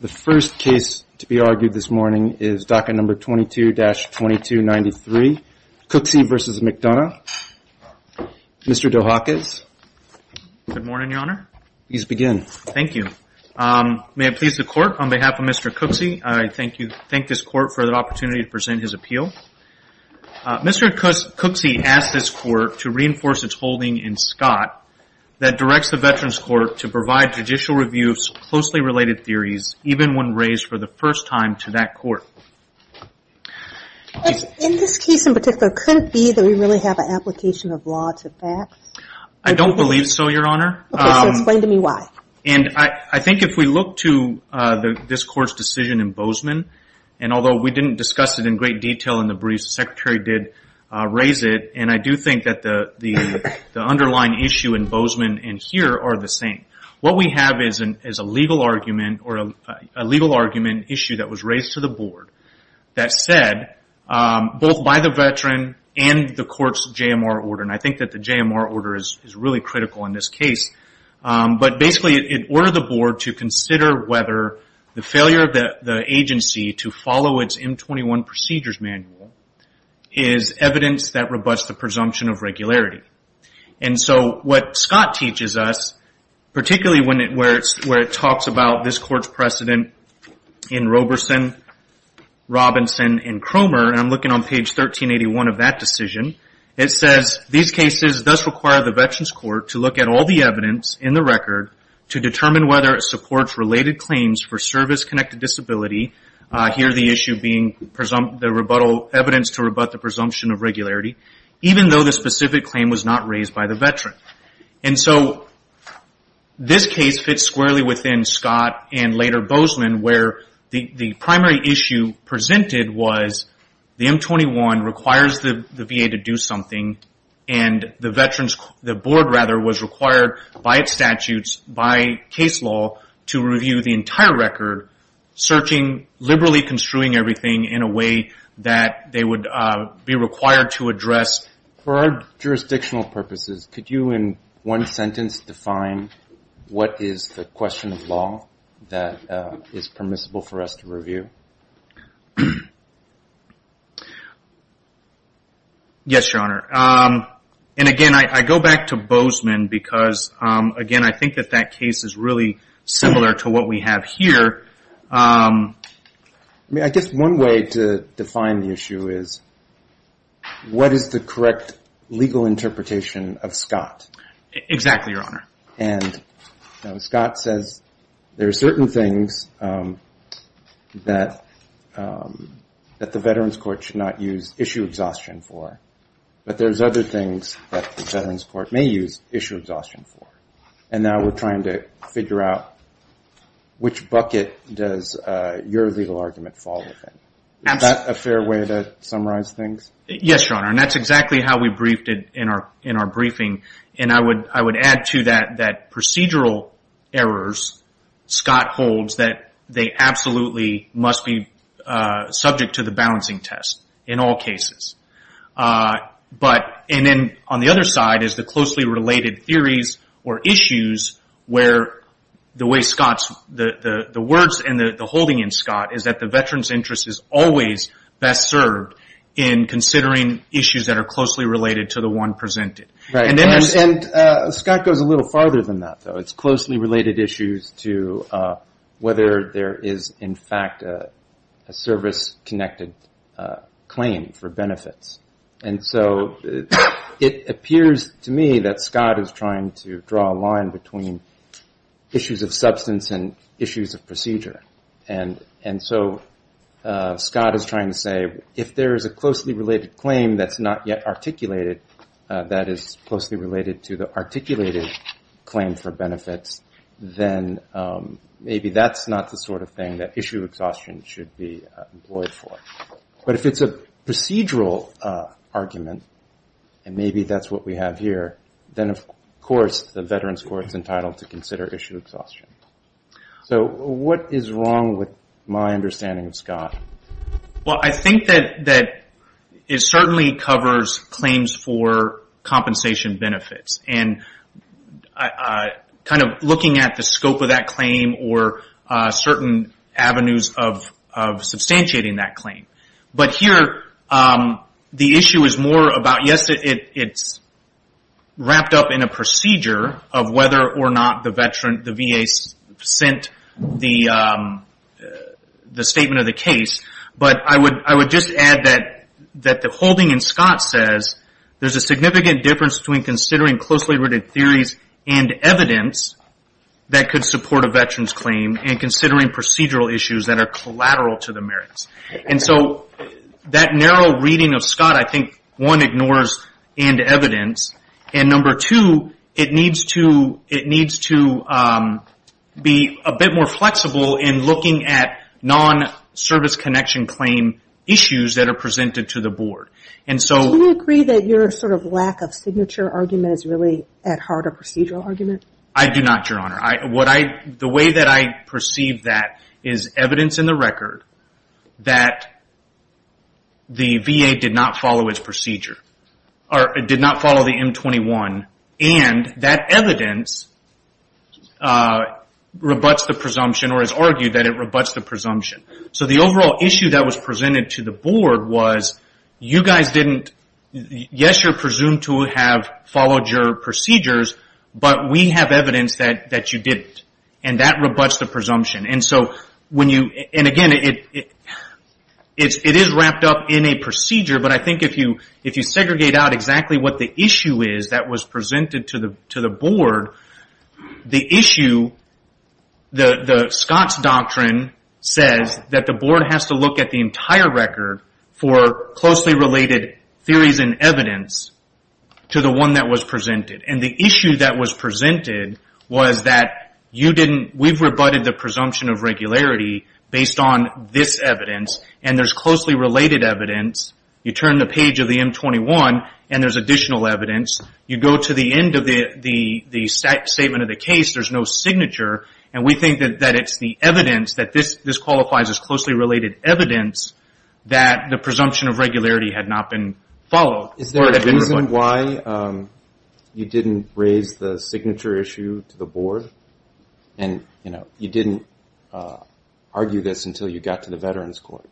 The first case to be argued this morning is docket number 22-2293, Cooksey v. McDonough. Mr. Dohakis. Good morning, Your Honor. Please begin. Thank you. May it please the Court, on behalf of Mr. Cooksey, I thank this Court for the opportunity to present his appeal. Mr. Cooksey asked this Court to reinforce its holding in Scott that directs the Veterans Court to provide judicial review of closely related theories, even when raised for the first time to that Court. In this case in particular, could it be that we really have an application of law to that? I don't believe so, Your Honor. Okay, so explain to me why. I think if we look to this Court's decision in Bozeman, and although we didn't discuss it in great detail in the briefs, the Secretary did raise it, and I do think that the underlying issue in Bozeman and here are the same. What we have is a legal argument issue that was raised to the Board that said, both by the Veteran and the Court's JMR order, and I think that the JMR order is really critical in this case. Basically, it ordered the Board to consider whether the failure of the agency to follow its M21 procedures manual is evidence that rebuts the presumption of regularity. What Scott teaches us, particularly where it talks about this Court's precedent in Roberson, Robinson, and Cromer, and I'm looking on page 1381 of that decision, it says, these cases thus require the Veterans Court to look at all the evidence in the record to determine whether it supports related claims for service-connected disability, here the issue being the evidence to rebut the presumption of regularity, even though the specific claim was not raised by the Veteran. This case fits squarely within Scott and later Bozeman, where the primary issue presented was the M21 requires the VA to do something, and the Board was required by its statutes, by case law, to review the entire record, searching, liberally construing everything in a way that they would be required to address. For our jurisdictional purposes, could you in one sentence define what is the question of law that is permissible for us to review? Yes, Your Honor. And again, I go back to Bozeman because, again, I think that that case is really similar to what we have here. I mean, I guess one way to define the issue is, what is the correct legal interpretation of Scott? Exactly, Your Honor. And Scott says there are certain things that the Veterans Court should not use issue exhaustion for, but there's other things that the Veterans Court may use issue exhaustion for, and now we're trying to figure out which bucket does your legal argument fall within. Is that a fair way to summarize things? Yes, Your Honor, and that's exactly how we briefed it in our briefing, and I would add to that that procedural errors, Scott holds that they absolutely must be subject to the balancing test in all cases, and then on the other side is the closely related theories or issues where the way Scott's, the words and the holding in Scott is that the veteran's interest is always best served in considering issues that are closely related to the one presented. Right, and Scott goes a little farther than that, though. It's closely related issues to whether there is, in fact, a service-connected claim for benefits, and so it appears to me that Scott is trying to draw a line between issues of substance and issues of procedure, and so Scott is trying to say if there is a closely related claim that's not yet articulated, that is closely related to the articulated claim for benefits, then maybe that's not the sort of thing that issue exhaustion should be employed for. But if it's a procedural argument, and maybe that's what we have here, then, of course, the Veterans Court's entitled to consider issue exhaustion. So what is wrong with my understanding of Scott? Well, I think that it certainly covers claims for compensation benefits, and kind of looking at the scope of that claim or certain avenues of substantiating that claim. But here, the issue is more about, yes, it's wrapped up in a procedure of whether or not the VA sent the statement of the case, but I would just add that the holding in Scott says there's a significant difference between considering closely related theories and evidence that could support a veteran's claim and considering procedural issues that are collateral to the merits. And so that narrow reading of Scott, I think, one, ignores end evidence, and number two, it needs to be a bit more flexible in looking at non-service connection claim issues that are presented to the board. Do you agree that your sort of lack of signature argument is really at heart a procedural argument? I do not, Your Honor. The way that I perceive that is evidence in the record that the VA did not follow its procedure, or did not follow the M21, and that evidence rebuts the presumption or is argued that it rebuts the presumption. So the overall issue that was presented to the board was, yes, you're presumed to have followed your procedures, but we have evidence that you didn't, and that rebuts the presumption. And again, it is wrapped up in a procedure, but I think if you segregate out exactly what the issue is that was presented to the board, the issue, the Scott's doctrine says that the board has to look at the entire record for closely related theories and evidence to the one that was presented. And the issue that was presented was that you didn't, we've rebutted the presumption of regularity based on this evidence, and there's closely related evidence. You turn the page of the M21, and there's additional evidence. You go to the end of the statement of the case, there's no signature, and we think that it's the evidence that this qualifies as closely related evidence that the presumption of regularity had not been followed. Is there a reason why you didn't raise the signature issue to the board, and you didn't argue this until you got to the Veterans Court?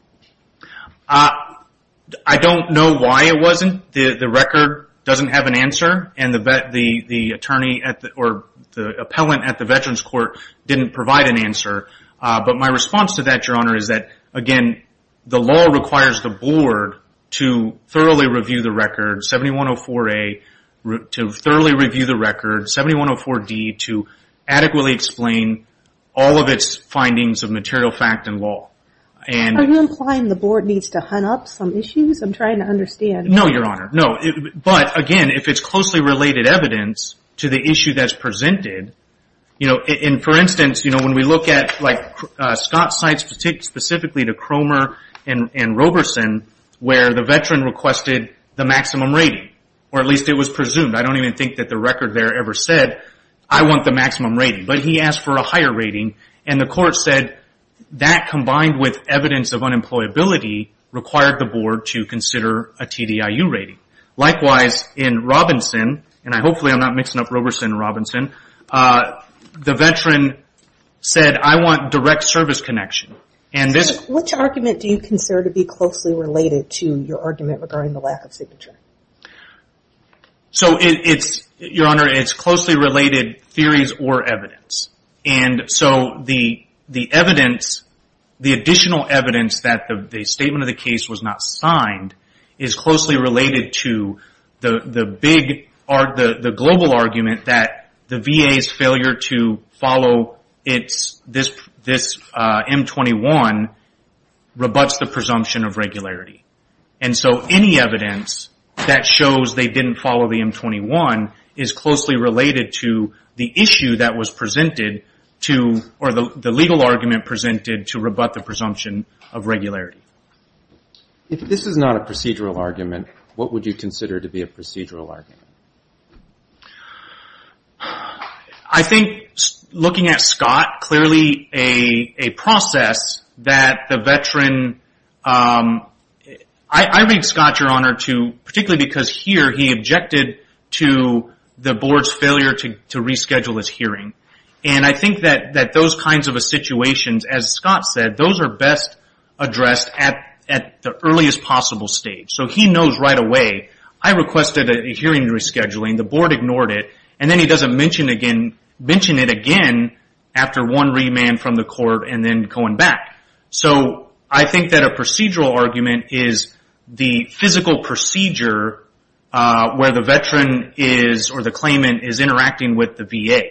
I don't know why it wasn't. The record doesn't have an answer, and the attorney or the appellant at the Veterans Court didn't provide an answer. But my response to that, Your Honor, is that again the law requires the board to thoroughly review the record, 7104A, to thoroughly review the record, 7104D, to adequately explain all of its findings of material fact and law. Are you implying the board needs to hunt up some issues? I'm trying to understand. No, Your Honor. But again, if it's closely related evidence to the issue that's presented, for instance, when we look at Scott's site, specifically to Cromer and Roberson, where the veteran requested the maximum rating, or at least it was presumed. I don't even think that the record there ever said, I want the maximum rating. But he asked for a higher rating, and the court said that combined with evidence of unemployability required the board to consider a TDIU rating. Likewise, in Robinson, and hopefully I'm not mixing up Roberson and Robinson, the veteran said, I want direct service connection. Which argument do you consider to be closely related to your argument regarding the lack of signature? Your Honor, it's closely related theories or evidence. The additional evidence that the statement of the case was not signed is closely related to the global argument that the VA's failure to follow this M21 rebuts the presumption of regularity. Any evidence that shows they didn't follow the M21 is closely related to the issue that was regularity. If this is not a procedural argument, what would you consider to be a procedural argument? I think looking at Scott, clearly a process that the veteran... I read Scott, Your Honor, particularly because here he objected to the board's failure to reschedule his hearing. I think that those kinds of situations, as addressed, at the earliest possible stage. He knows right away, I requested a hearing rescheduling, the board ignored it, and then he doesn't mention it again after one remand from the court and then going back. I think that a procedural argument is the physical procedure where the veteran is, or the claimant, is interacting with the VA.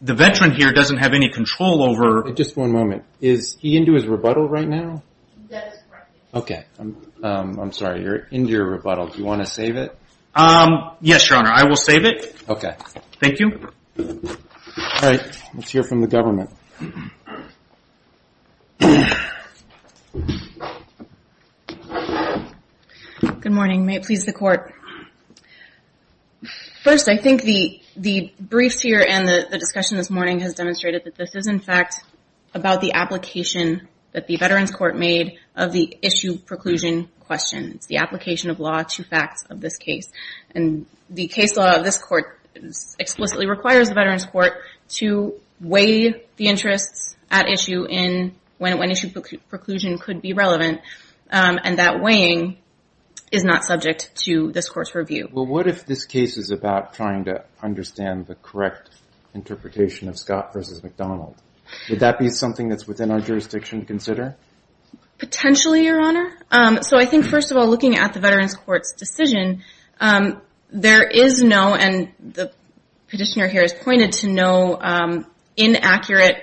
The veteran here doesn't have any control over... Just one moment. Is he into his rebuttal right now? That is correct, Your Honor. Okay. I'm sorry, you're into your rebuttal. Do you want to save it? Yes, Your Honor. I will save it. Okay. Thank you. All right. Let's hear from the government. Good morning. May it please the court. First, I think the briefs here and the discussion this morning has demonstrated that this is, in fact, about the application that the Veterans Court made of the issue preclusion question. It's the application of law to facts of this case. The case law of this court explicitly requires the Veterans Court to weigh the interests at issue in when issue preclusion could be relevant. That weighing is not subject to this court's review. What if this case is about trying to understand the correct interpretation of Scott versus McDonald? Would that be something that's within our jurisdiction to consider? Potentially, Your Honor. I think, first of all, looking at the Veterans Court's decision, there is no, and the petitioner here has pointed to no, inaccurate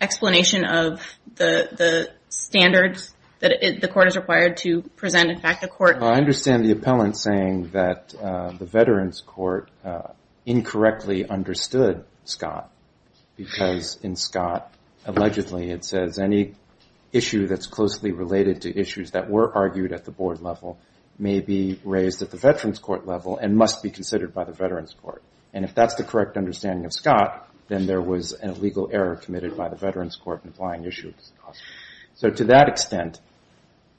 explanation of the standards that the court is required to present. In fact, the court... I understand the appellant saying that the court incorrectly understood Scott because in Scott, allegedly, it says any issue that's closely related to issues that were argued at the board level may be raised at the Veterans Court level and must be considered by the Veterans Court. If that's the correct understanding of Scott, then there was a legal error committed by the Veterans Court in applying issues. To that extent,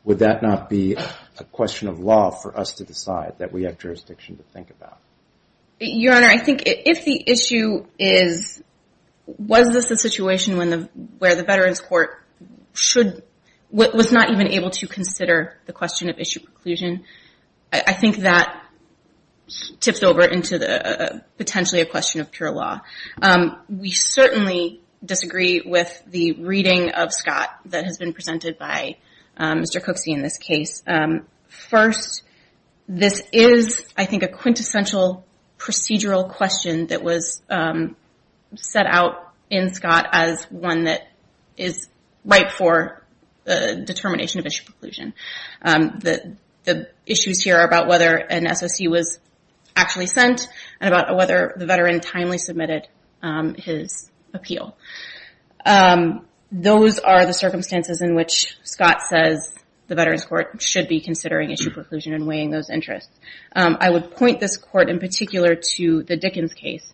would that not be a question of law for us to decide that we have jurisdiction to think about? Your Honor, I think if the issue is, was this a situation where the Veterans Court was not even able to consider the question of issue preclusion, I think that tips over into potentially a question of pure law. We certainly disagree with the reading of Scott that has been presented by Mr. Cooksey in this case. First, this is, I think, a quintessential procedural question that was set out in Scott as one that is right for the determination of issue preclusion. The issues here are about whether an SOC was actually sent and about whether the veteran timely submitted his appeal. Those are the circumstances in which Scott says the Veterans Court should be considering issue preclusion and weighing those interests. I would point this court in particular to the Dickens case,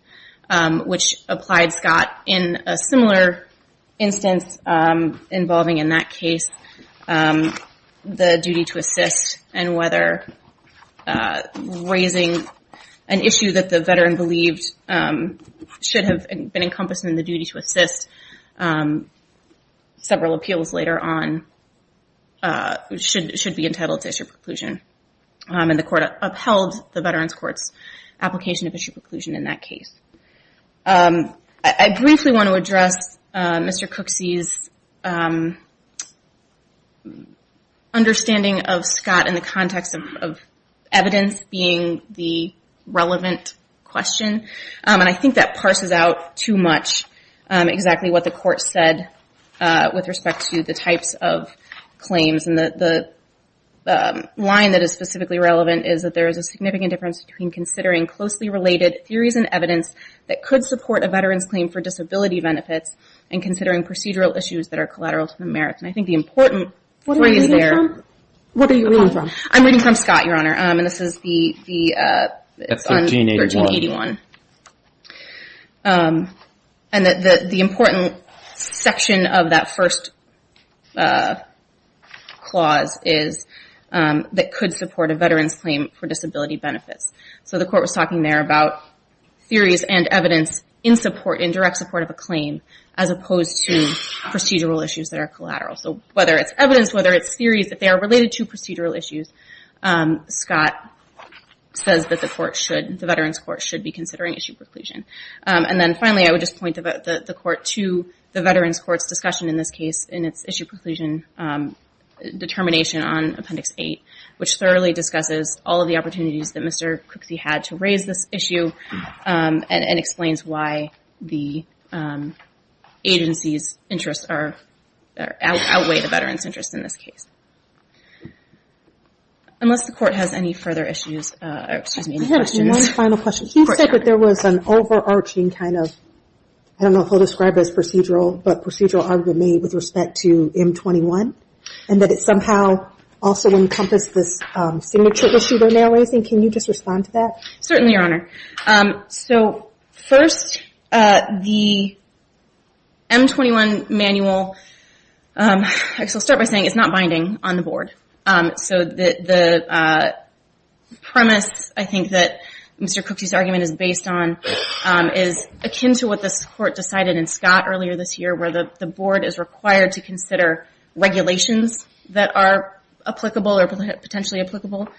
which applied Scott in a similar instance involving in that case the duty to assist and whether raising an issue that the veteran believed should have been encompassed in the duty to assist several appeals later on should be entitled to issue preclusion. The court upheld the Veterans Court's application of issue preclusion in that case. I briefly want to address Mr. Cooksey's understanding of Scott in the context of evidence being the relevant question. I think that parses out too much exactly what the court said with respect to the types of claims. The line that is specifically relevant is that there is a significant difference between considering closely related theories and evidence that could support a veteran's claim for disability benefits and considering procedural issues that are collateral to the merits. I think the important point is there. What are you reading from? I'm reading from Scott, Your Honor. This is the 1381. The important section of that first clause is that could support a veteran's claim for disability benefits. The court was talking there about theories and evidence in support, in direct support of a claim as opposed to procedural issues that are collateral. Whether it's evidence, whether it's theories, if they are related to procedural issues, Scott says that the Veterans Court should be considering issue preclusion. Finally, I would just point the court to the Veterans Court's discussion in this case in its issue preclusion determination on Appendix 8, which thoroughly discusses all of the opportunities that Mr. Cooksey had to raise this issue and explains why the agency's interests outweigh the veterans' interests in this case. Unless the court has any further issues, or excuse me, any questions. I have one final question. You said that there was an overarching kind of, I don't know if I'll describe it as procedural, but procedural argument made with respect to M21 and that it somehow also encompassed this signature issue they're now raising. Can you just respond to that? Certainly, Your Honor. So first, the M21 manual, the M21 manual, is a very simple manual. I'll start by saying it's not binding on the board. So the premise, I think, that Mr. Cooksey's argument is based on is akin to what this court decided in Scott earlier this year, where the board is required to consider regulations that are applicable or potentially applicable.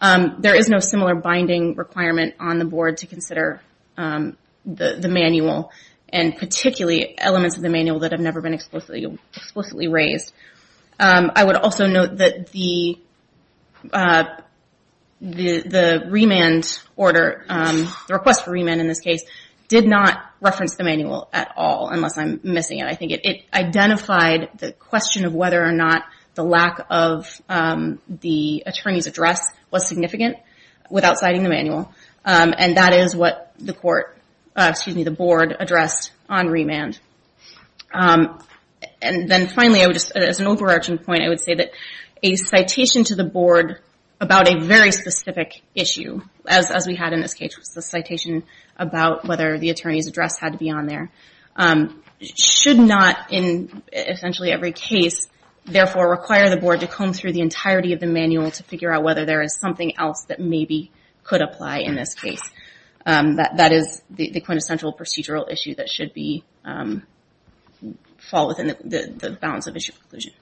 There is no similar binding requirement on the board to consider the manual, and particularly elements of the manual that have never been explicitly raised. I would also note that the remand order, the request for remand in this case, did not reference the manual at all, unless I'm missing it. I think it identified the question of whether or not the lack of the attorney's address was significant without citing the manual, and that is what the board addressed on remand. Then, finally, as an overarching point, I would say that a citation to the board about a very specific issue, as we had in this case with the citation about whether the attorney's address had to be on there, should not, in essentially every case, therefore require the board to comb through the entirety of the manual to figure out whether there is something else that maybe could apply in this case. That is the quintessential procedural issue that should fall within the bounds of issue conclusion.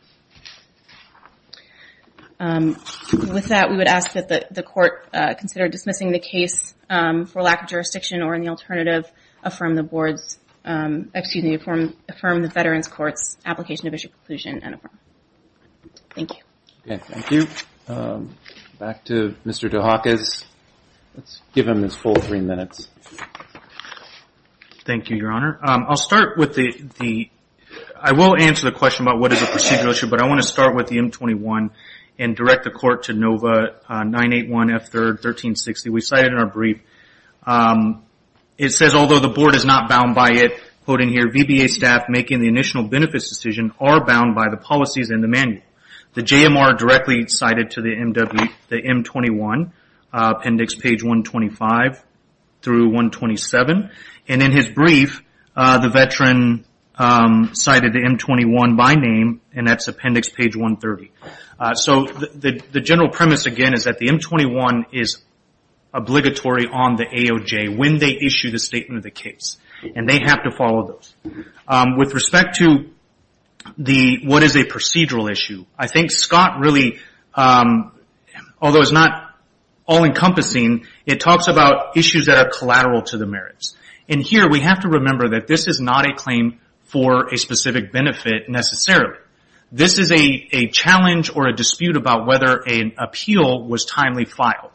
With that, we would ask that the court consider dismissing the case for lack of jurisdiction or in the alternative, affirm the board's, excuse me, affirm the veteran's court's application of issue conclusion and affirm. Thank you. Thank you. Back to Mr. DeHakis. Let's give him his full three minutes. Thank you, Your Honor. I will answer the question about what is a procedural issue, but I want to start with the M21 and direct the court to NOVA 981 F3, 1360. We cite it in our brief. It says, although the board is not bound by it, quoting here, VBA staff making the initial benefits decision are bound by the policies in the manual. The JMR directly cited to the M21, appendix page 125 through 127. In his brief, the veteran cited the M21 by name, and that's appendix page 130. The general premise, again, is that the M21 is obligatory on the AOJ when they issue the statement of the case. They have to follow those. With respect to what is a procedural issue, I think Scott really, although it's not all encompassing, it talks about issues that are collateral to the merits. Here, we have to remember that this is not a claim for a specific benefit necessarily. This is a challenge or a dispute about whether an appeal was timely filed.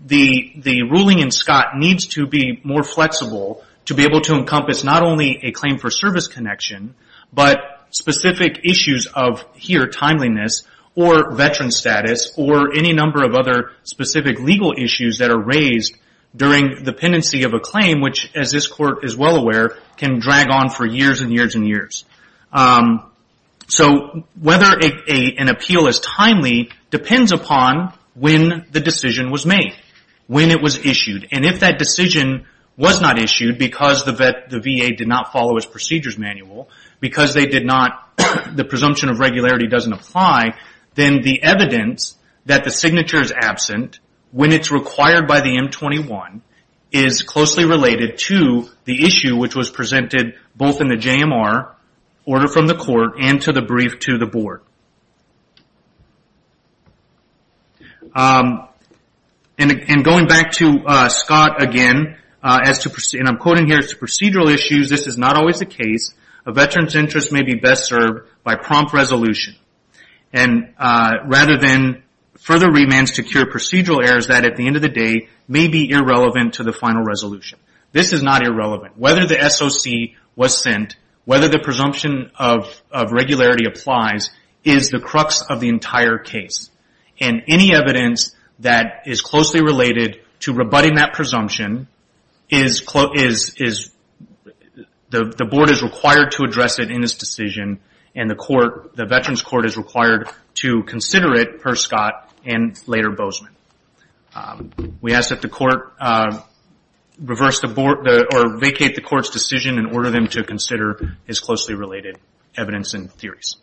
The ruling in Scott needs to be more a claim for service connection, but specific issues of, here, timeliness or veteran status, or any number of other specific legal issues that are raised during dependency of a claim, which as this court is well aware, can drag on for years and years and years. Whether an appeal is timely depends upon when the decision was made, when it was issued. If that decision was not issued because the VA did not follow its procedures manual, because the presumption of regularity doesn't apply, then the evidence that the signature is absent when it's required by the M21 is closely related to the issue, which was presented both in the JMR order from the court and to the brief to the board. Going back to Scott again, and I'm quoting here, it's a procedural issue. This is not always the case. A veteran's interest may be best served by prompt resolution, rather than further remands to cure procedural errors that at the end of the day may be irrelevant to the final resolution. This is not irrelevant. Whether the SOC was sent, whether the presumption of regularity applies, is the crux of the entire case. Any evidence that is closely related to rebutting that presumption, the board is required to address it in this decision and the veterans court is required to consider it per Scott and later Bozeman. We ask that the court vacate the court's decision and order them to consider is closely related evidence and theories.